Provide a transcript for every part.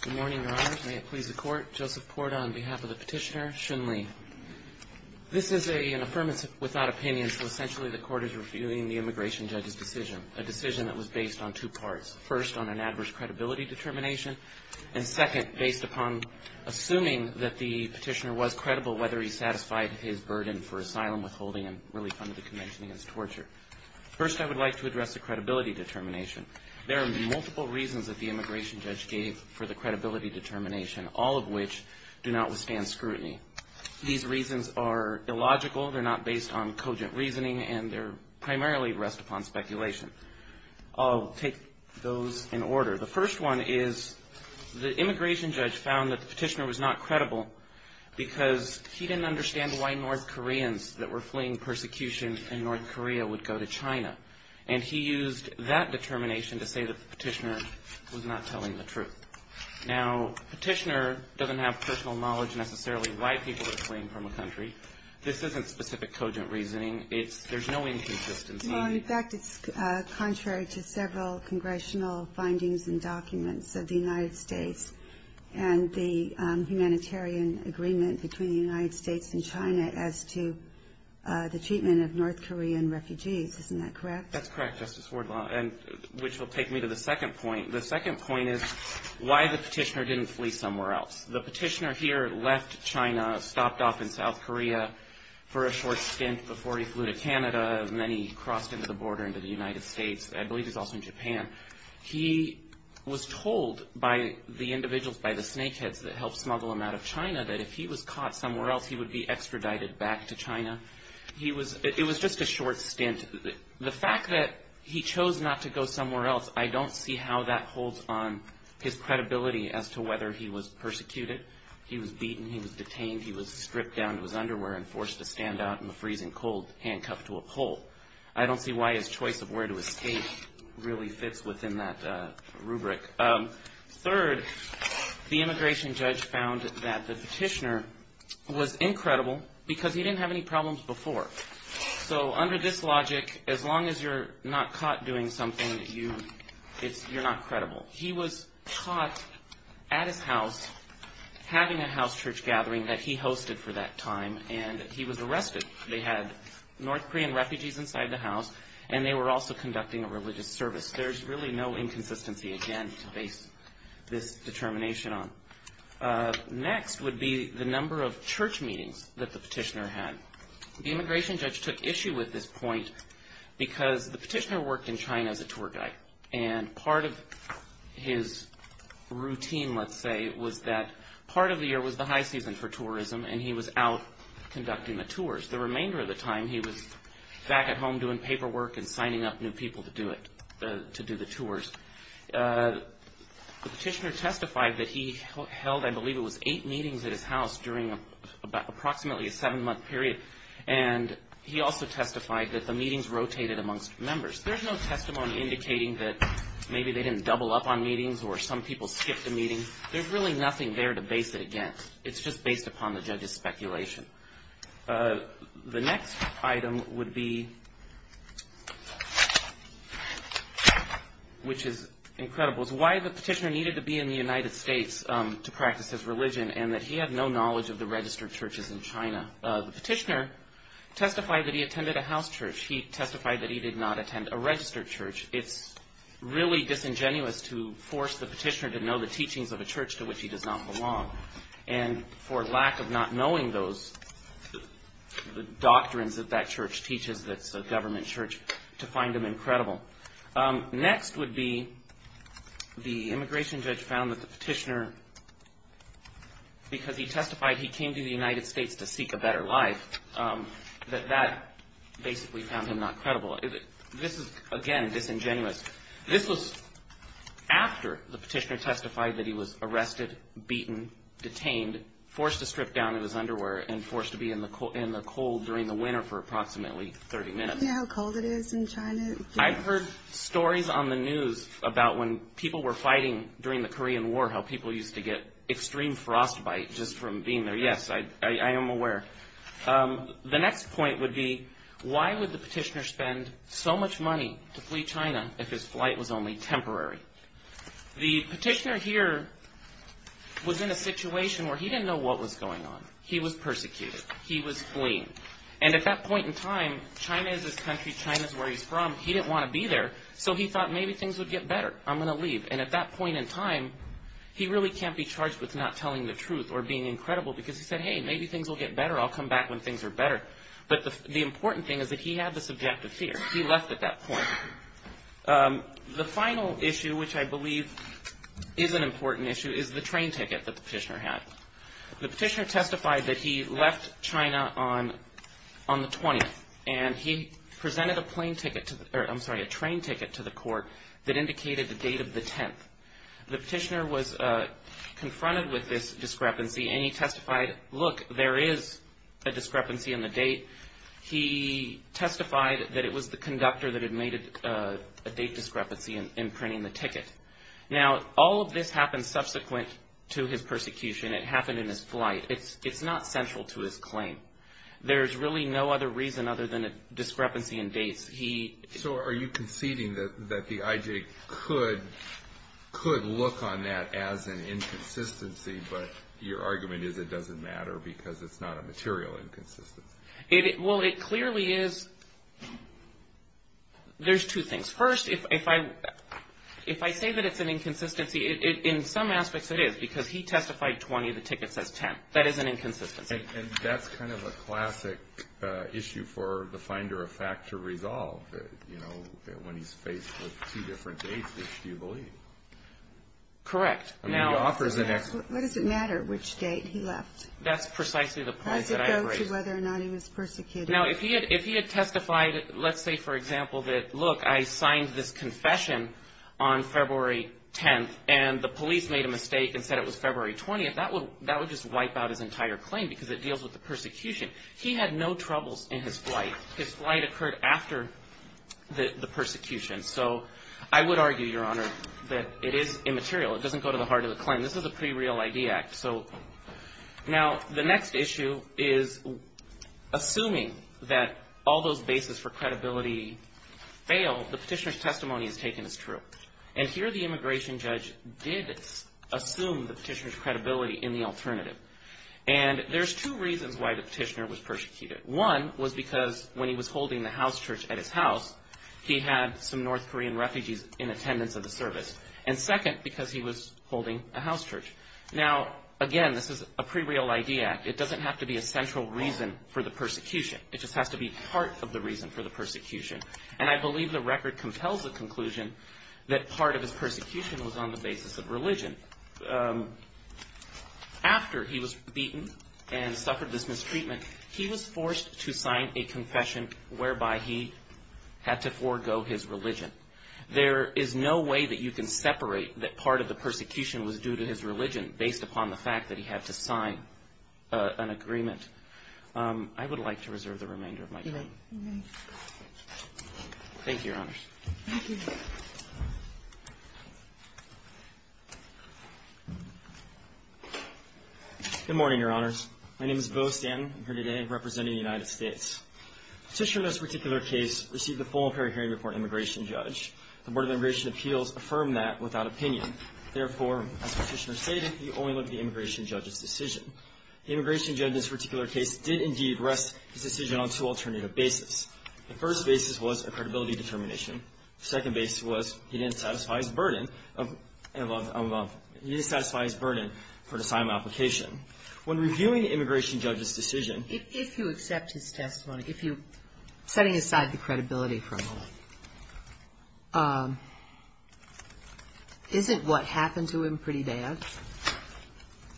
Good morning, Your Honors. May it please the Court. Joseph Porta on behalf of the Petitioner. Xun Li. This is an Affirmative Without Opinion, so essentially the Court is reviewing the Immigration Judge's decision. A decision that was based on two parts. First, on an adverse credibility determination. And second, based upon assuming that the Petitioner was credible whether he satisfied his burden for asylum withholding and relief under the Convention against Torture. First, I would like to address the credibility determination. There are multiple reasons that the Immigration Judge gave for the credibility determination, all of which do not withstand scrutiny. These reasons are illogical, they're not based on cogent reasoning, and they're primarily rest upon speculation. I'll take those in order. The first one is the Immigration Judge found that the Petitioner was not credible because he didn't understand why North Koreans that were fleeing persecution in North Korea would go to China. And he used that determination to say that the Petitioner was not telling the truth. Now, the Petitioner doesn't have personal knowledge necessarily why people are fleeing from a country. This isn't specific cogent reasoning. There's no inconsistency. Well, in fact, it's contrary to several congressional findings and documents of the United States and the humanitarian agreement between the United States and China as to the treatment of North Korean refugees. Isn't that correct? That's correct, Justice Wardlaw, which will take me to the second point. The second point is why the Petitioner didn't flee somewhere else. The Petitioner here left China, stopped off in South Korea for a short stint before he flew to Canada, and then he crossed into the border into the United States. I believe he's also in Japan. He was told by the individuals, by the snakeheads that helped smuggle him out of China, that if he was caught somewhere else, he would be extradited back to China. It was just a short stint. The fact that he chose not to go somewhere else, I don't see how that holds on his credibility as to whether he was persecuted. He was beaten. He was detained. He was stripped down to his underwear and forced to stand out in the freezing cold, handcuffed to a pole. I don't see why his choice of where to escape really fits within that rubric. Third, the immigration judge found that the Petitioner was incredible because he didn't have any problems before. So under this logic, as long as you're not caught doing something, you're not credible. He was caught at his house having a house church gathering that he hosted for that time, and he was arrested. They had North Korean refugees inside the house, and they were also conducting a religious service. There's really no inconsistency, again, to base this determination on. Next would be the number of church meetings that the Petitioner had. The immigration judge took issue with this point because the Petitioner worked in China as a tour guide, and part of his routine, let's say, was that part of the year was the high season for tourism, and he was out conducting the tours. The remainder of the time, he was back at home doing paperwork and signing up new people to do the tours. The Petitioner testified that he held, I believe it was eight meetings at his house during approximately a seven-month period, and he also testified that the meetings rotated amongst members. There's no testimony indicating that maybe they didn't double up on meetings or some people skipped a meeting. There's really nothing there to base it against. The next item would be, which is incredible, is why the Petitioner needed to be in the United States to practice his religion and that he had no knowledge of the registered churches in China. The Petitioner testified that he attended a house church. He testified that he did not attend a registered church. It's really disingenuous to force the Petitioner to know the teachings of a church to which he does not belong, and for lack of not knowing those doctrines that that church teaches, that's a government church, to find him incredible. Next would be the immigration judge found that the Petitioner, because he testified he came to the United States to seek a better life, that that basically found him not credible. This is, again, disingenuous. This was after the Petitioner testified that he was arrested, beaten, detained, forced to strip down in his underwear, and forced to be in the cold during the winter for approximately 30 minutes. Do you know how cold it is in China? I've heard stories on the news about when people were fighting during the Korean War, how people used to get extreme frostbite just from being there. Yes, I am aware. The next point would be why would the Petitioner spend so much money to flee China if his flight was only temporary? The Petitioner here was in a situation where he didn't know what was going on. He was persecuted. He was fleeing. And at that point in time, China is his country. China is where he's from. He didn't want to be there, so he thought maybe things would get better. I'm going to leave. And at that point in time, he really can't be charged with not telling the truth or being incredible because he said, hey, maybe things will get better. I'll come back when things are better. But the important thing is that he had the subjective fear. He left at that point. The final issue, which I believe is an important issue, is the train ticket that the Petitioner had. The Petitioner testified that he left China on the 20th, and he presented a train ticket to the court that indicated the date of the 10th. The Petitioner was confronted with this discrepancy, and he testified, look, there is a discrepancy in the date. He testified that it was the conductor that had made a date discrepancy in printing the ticket. Now, all of this happened subsequent to his persecution. It happened in his flight. It's not central to his claim. There's really no other reason other than a discrepancy in dates. So are you conceding that the IJ could look on that as an inconsistency, but your argument is it doesn't matter because it's not a material inconsistency? Well, it clearly is. There's two things. First, if I say that it's an inconsistency, in some aspects it is because he testified 20, the ticket says 10. That is an inconsistency. And that's kind of a classic issue for the finder of fact to resolve, you know, when he's faced with two different dates, which do you believe? Correct. What does it matter which date he left? That's precisely the point that I bring. Does it go to whether or not he was persecuted? Now, if he had testified, let's say, for example, that, look, I signed this confession on February 10th, and the police made a mistake and said it was February 20th, that would just wipe out his entire claim because it deals with the persecution. He had no troubles in his flight. His flight occurred after the persecution. So I would argue, Your Honor, that it is immaterial. It doesn't go to the heart of the claim. This is a pre-real ID act. So now the next issue is assuming that all those bases for credibility fail, the petitioner's testimony is taken as true. And here the immigration judge did assume the petitioner's credibility in the alternative. And there's two reasons why the petitioner was persecuted. One was because when he was holding the house church at his house, he had some North Korean refugees in attendance of the service. And second, because he was holding a house church. Now, again, this is a pre-real ID act. It doesn't have to be a central reason for the persecution. It just has to be part of the reason for the persecution. And I believe the record compels the conclusion that part of his persecution was on the basis of religion. After he was beaten and suffered this mistreatment, he was forced to sign a confession whereby he had to forego his religion. There is no way that you can separate that part of the persecution was due to his religion based upon the fact that he had to sign an agreement. I would like to reserve the remainder of my time. Thank you, Your Honors. Thank you. Good morning, Your Honors. My name is Beau Stanton. I'm here today representing the United States. The petitioner in this particular case received a full and fair hearing before an immigration judge. The Board of Immigration Appeals affirmed that without opinion. Therefore, as the petitioner stated, you only look at the immigration judge's decision. The immigration judge in this particular case did, indeed, rest his decision on two alternative basis. The first basis was a credibility determination. The second basis was he didn't satisfy his burden of, he didn't satisfy his burden for the assignment application. When reviewing the immigration judge's decision. If you accept his testimony, if you, setting aside the credibility for a moment, isn't what happened to him pretty bad?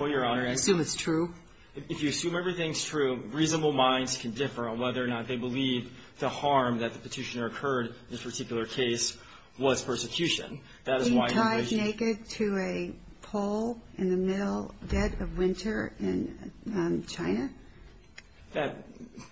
Well, Your Honor. Assume it's true. If you assume everything's true, reasonable minds can differ on whether or not they believe the harm that the petitioner occurred in this particular case was persecution. That is why immigration. He died naked to a pole in the middle dead of winter in China?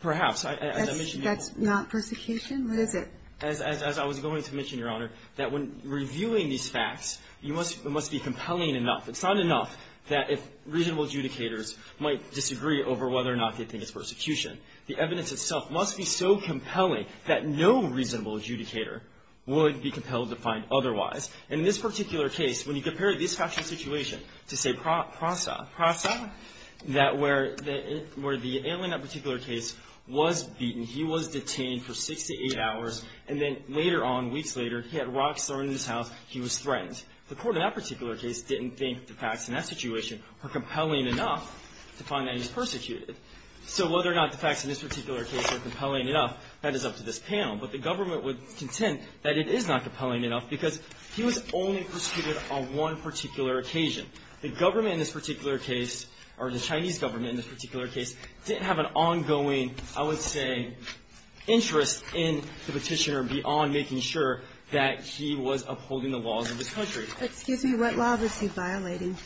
Perhaps. That's not persecution? What is it? As I was going to mention, Your Honor, that when reviewing these facts, it must be compelling enough. It's not enough that if reasonable adjudicators might disagree over whether or not they think it's persecution. The evidence itself must be so compelling that no reasonable adjudicator would be compelled to find otherwise. And in this particular case, when you compare this factual situation to, say, Prasa. Prasa, where the alien in that particular case was beaten. He was detained for six to eight hours. And then later on, weeks later, he had rocks thrown in his house. He was threatened. The court in that particular case didn't think the facts in that situation were compelling enough to find that he was persecuted. So whether or not the facts in this particular case are compelling enough, that is up to this panel. But the government would contend that it is not compelling enough because he was only persecuted on one particular occasion. The government in this particular case, or the Chinese government in this particular case, didn't have an ongoing, I would say, interest in the Petitioner beyond making sure that he was upholding the laws of this country. Excuse me. What law was he violating?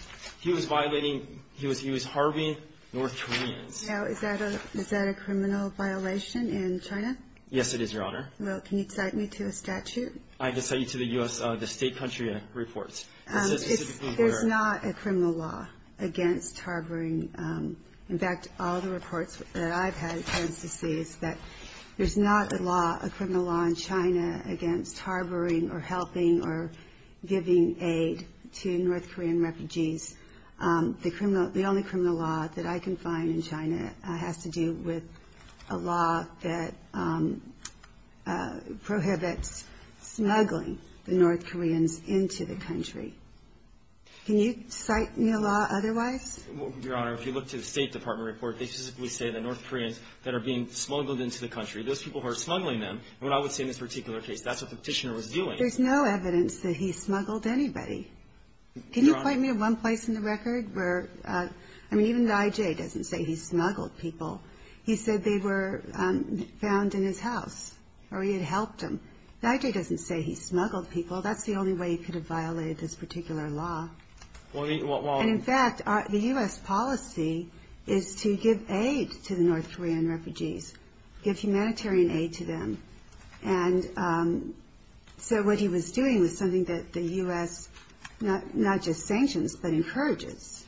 He was violating he was harboring North Koreans. Now, is that a criminal violation in China? Yes, it is, Your Honor. Well, can you cite me to a statute? I can cite you to the U.S. State country reports. It's not a criminal law against harboring. In fact, all the reports that I've had tend to say that there's not a law, a criminal law in China against harboring or helping or giving aid to North Korean refugees. The only criminal law that I can find in China has to do with a law that prohibits smuggling the North Koreans into the country. Can you cite me a law otherwise? Your Honor, if you look to the State Department report, they specifically say that North Koreans that are being smuggled into the country, those people who are smuggling them, what I would say in this particular case, that's what the Petitioner was doing. There's no evidence that he smuggled anybody. Your Honor. Can you point me to one place in the record where, I mean, even the I.J. doesn't say he smuggled people. He said they were found in his house or he had helped them. The I.J. doesn't say he smuggled people. That's the only way he could have violated this particular law. And, in fact, the U.S. policy is to give aid to the North Korean refugees, give humanitarian aid to them. And so what he was doing was something that the U.S. not just sanctions but encourages.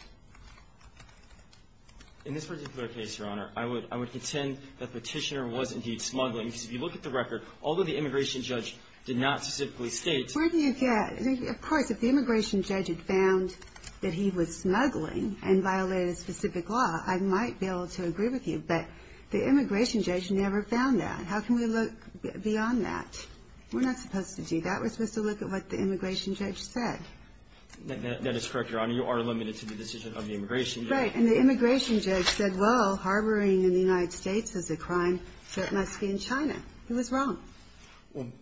In this particular case, Your Honor, I would contend that the Petitioner was indeed smuggling, because if you look at the record, although the immigration judge did not specifically state. Where do you get? Of course, if the immigration judge had found that he was smuggling and violated a specific law, I might be able to agree with you. But the immigration judge never found that. How can we look beyond that? We're not supposed to do that. We're supposed to look at what the immigration judge said. That is correct, Your Honor. You are limited to the decision of the immigration judge. Right. And the immigration judge said, well, harboring in the United States is a crime, so it must be in China. He was wrong.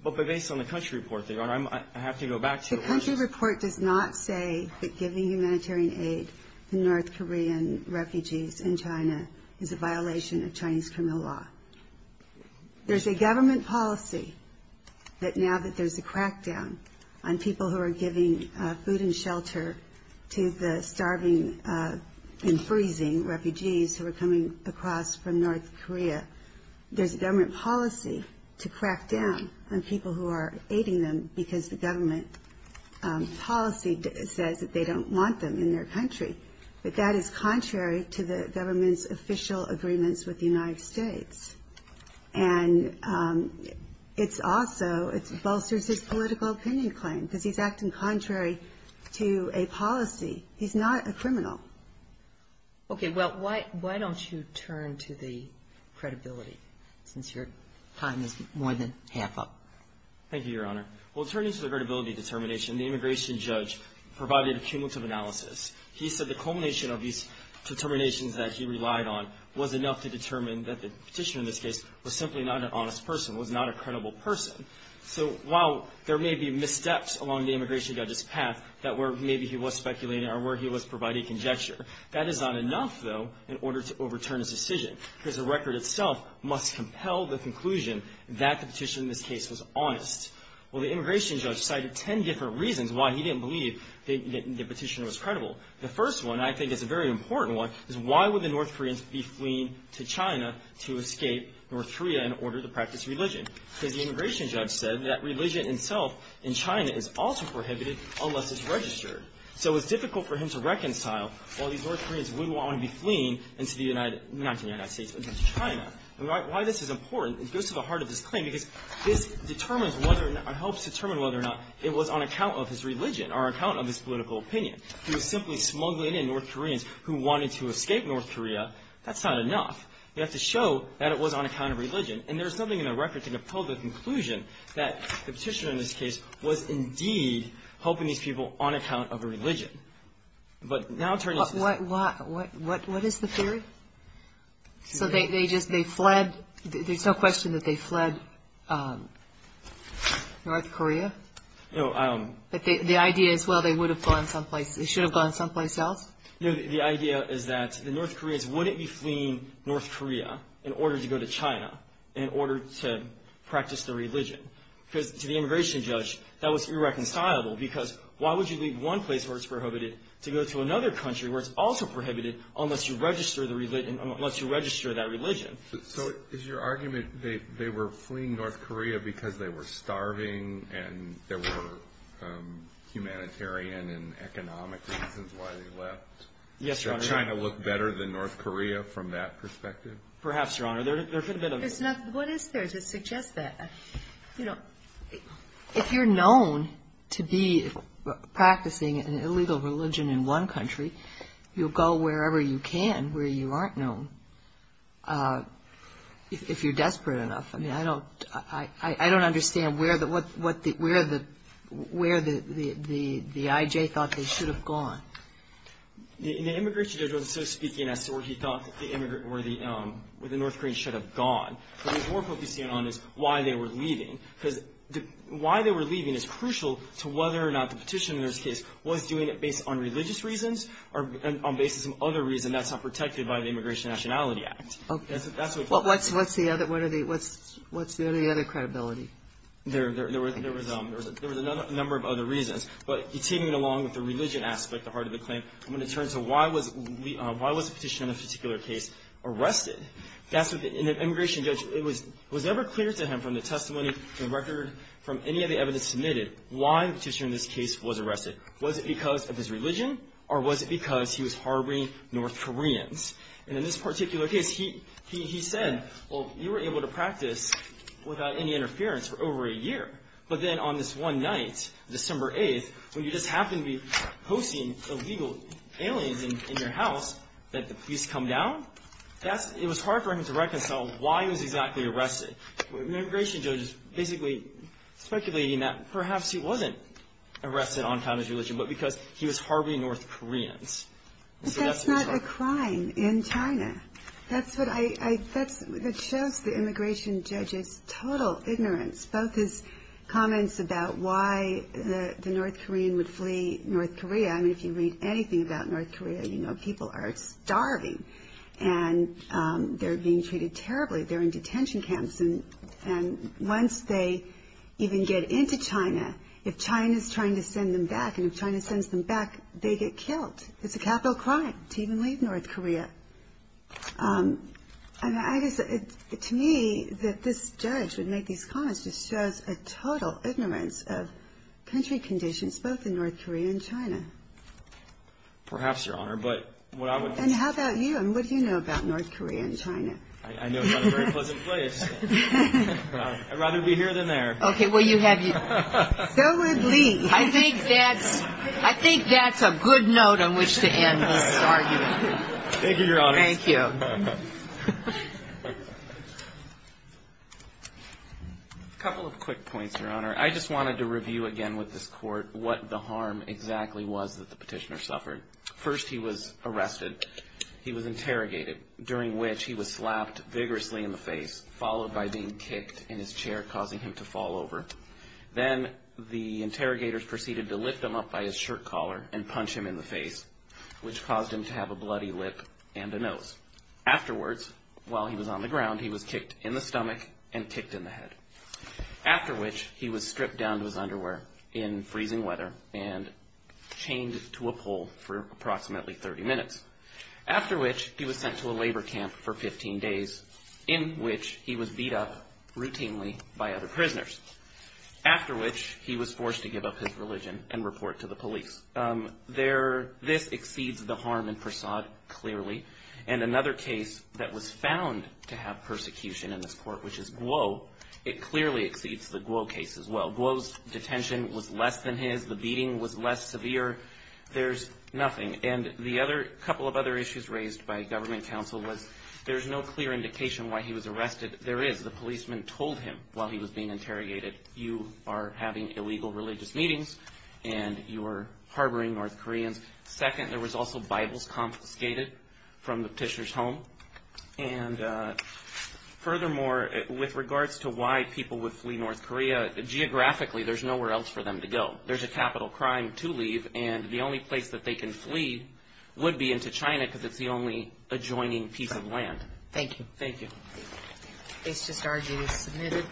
But based on the country report, Your Honor, I have to go back to the question. The country report does not say that giving humanitarian aid to North Korean refugees in China is a violation of Chinese criminal law. There's a government policy that now that there's a crackdown on people who are giving food and shelter to the starving and freezing refugees who are coming across from North Korea, there's a government policy to crackdown on people who are aiding them because the government policy says that they don't want them in their country. But that is contrary to the government's official agreements with the United States. And it's also, it bolsters his political opinion claim because he's acting contrary to a policy. He's not a criminal. Okay. Well, why don't you turn to the credibility since your time is more than half up. Thank you, Your Honor. Well, turning to the credibility determination, the immigration judge provided a cumulative analysis. He said the culmination of these determinations that he relied on was enough to determine that the petitioner in this case was simply not an honest person, was not a credible person. So while there may be missteps along the immigration judge's path that were maybe he was speculating or where he was providing conjecture, that is not enough, though, in order to overturn his decision because the record itself must compel the conclusion that the petitioner in this case was honest. Well, the immigration judge cited 10 different reasons why he didn't believe the petitioner was credible. The first one, I think, is a very important one, is why would the North Koreans be fleeing to China to escape North Korea in order to practice religion? Because the immigration judge said that religion itself in China is also prohibited unless it's registered. So it's difficult for him to reconcile why these North Koreans would want to be fleeing into the United States against China. And why this is important, it goes to the heart of this claim because this determines whether or not or helps determine whether or not it was on account of his religion or on account of his political opinion. He was simply smuggling in North Koreans who wanted to escape North Korea. That's not enough. We have to show that it was on account of religion. And there is nothing in the record to compel the conclusion that the petitioner in this case was indeed helping these people on account of a religion. But now it turns out... What is the theory? So they just fled? There's no question that they fled North Korea? No, I don't... But the idea is, well, they would have gone someplace. They should have gone someplace else? No, the idea is that the North Koreans wouldn't be fleeing North Korea in order to go to China in order to practice their religion. Because to the immigration judge, that was irreconcilable. Because why would you leave one place where it's prohibited to go to another country where it's also prohibited unless you register that religion? So is your argument they were fleeing North Korea because they were starving and there were humanitarian and economic reasons why they left? Yes, Your Honor. Did China look better than North Korea from that perspective? Perhaps, Your Honor. There could have been a... What is there to suggest that? You know, if you're known to be practicing an illegal religion in one country, you'll go wherever you can where you aren't known if you're desperate enough. I mean, I don't understand where the I.J. thought they should have gone. The immigration judge wasn't so speaking as to where he thought the North Koreans should have gone. What he was more focusing on is why they were leaving. Because why they were leaving is crucial to whether or not the petitioner in this case was doing it based on religious reasons or based on some other reason that's not protected by the Immigration and Nationality Act. Okay. What's the other credibility? There was a number of other reasons. But taking it along with the religion aspect, the heart of the claim, I'm going to turn to why was the petitioner in this particular case arrested? And the immigration judge, was it ever clear to him from the testimony, from the record, from any of the evidence submitted, why the petitioner in this case was arrested? Was it because of his religion or was it because he was harboring North Koreans? And in this particular case, he said, well, you were able to practice without any interference for over a year. But then on this one night, December 8th, when you just happened to be hosting illegal aliens in your house, that the police come down? It was hard for him to reconcile why he was exactly arrested. The immigration judge is basically speculating that perhaps he wasn't arrested on account of his religion, but because he was harboring North Koreans. But that's not a crime in China. That shows the immigration judge's total ignorance, both his comments about why the North Korean would flee North Korea. I mean, if you read anything about North Korea, you know people are starving and they're being treated terribly. They're in detention camps. And once they even get into China, if China's trying to send them back, and if China sends them back, they get killed. It's a capital crime to even leave North Korea. And I guess to me that this judge would make these comments just shows a total ignorance of country conditions, both in North Korea and China. Perhaps, Your Honor, but what I would. And how about you? And what do you know about North Korea and China? I know it's not a very pleasant place. I'd rather be here than there. Okay, well, you have your. Go and leave. I think that's a good note on which to end this argument. Thank you, Your Honor. Thank you. A couple of quick points, Your Honor. I just wanted to review again with this court what the harm exactly was that the petitioner suffered. First, he was arrested. He was interrogated, during which he was slapped vigorously in the face, followed by being kicked in his chair, causing him to fall over. Then the interrogators proceeded to lift him up by his shirt collar and punch him in the face, which caused him to have a bloody lip and a nose. Afterwards, while he was on the ground, he was kicked in the stomach and kicked in the head. After which, he was stripped down to his underwear in freezing weather and chained to a pole for approximately 30 minutes. After which, he was sent to a labor camp for 15 days, in which he was beat up routinely by other prisoners. After which, he was forced to give up his religion and report to the police. This exceeds the harm in Persaud clearly. And another case that was found to have persecution in this court, which is Guo, it clearly exceeds the Guo case as well. Guo's detention was less than his. The beating was less severe. There's nothing. And the other couple of other issues raised by government counsel was there's no clear indication why he was arrested. There is. The policeman told him while he was being interrogated, you are having illegal religious meetings and you are harboring North Koreans. Second, there was also Bibles confiscated from the petitioner's home. And furthermore, with regards to why people would flee North Korea, geographically, there's nowhere else for them to go. There's a capital crime to leave. And the only place that they can flee would be into China because it's the only adjoining piece of land. Thank you. Thank you. Case just argued is submitted. Case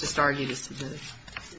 just argued is submitted.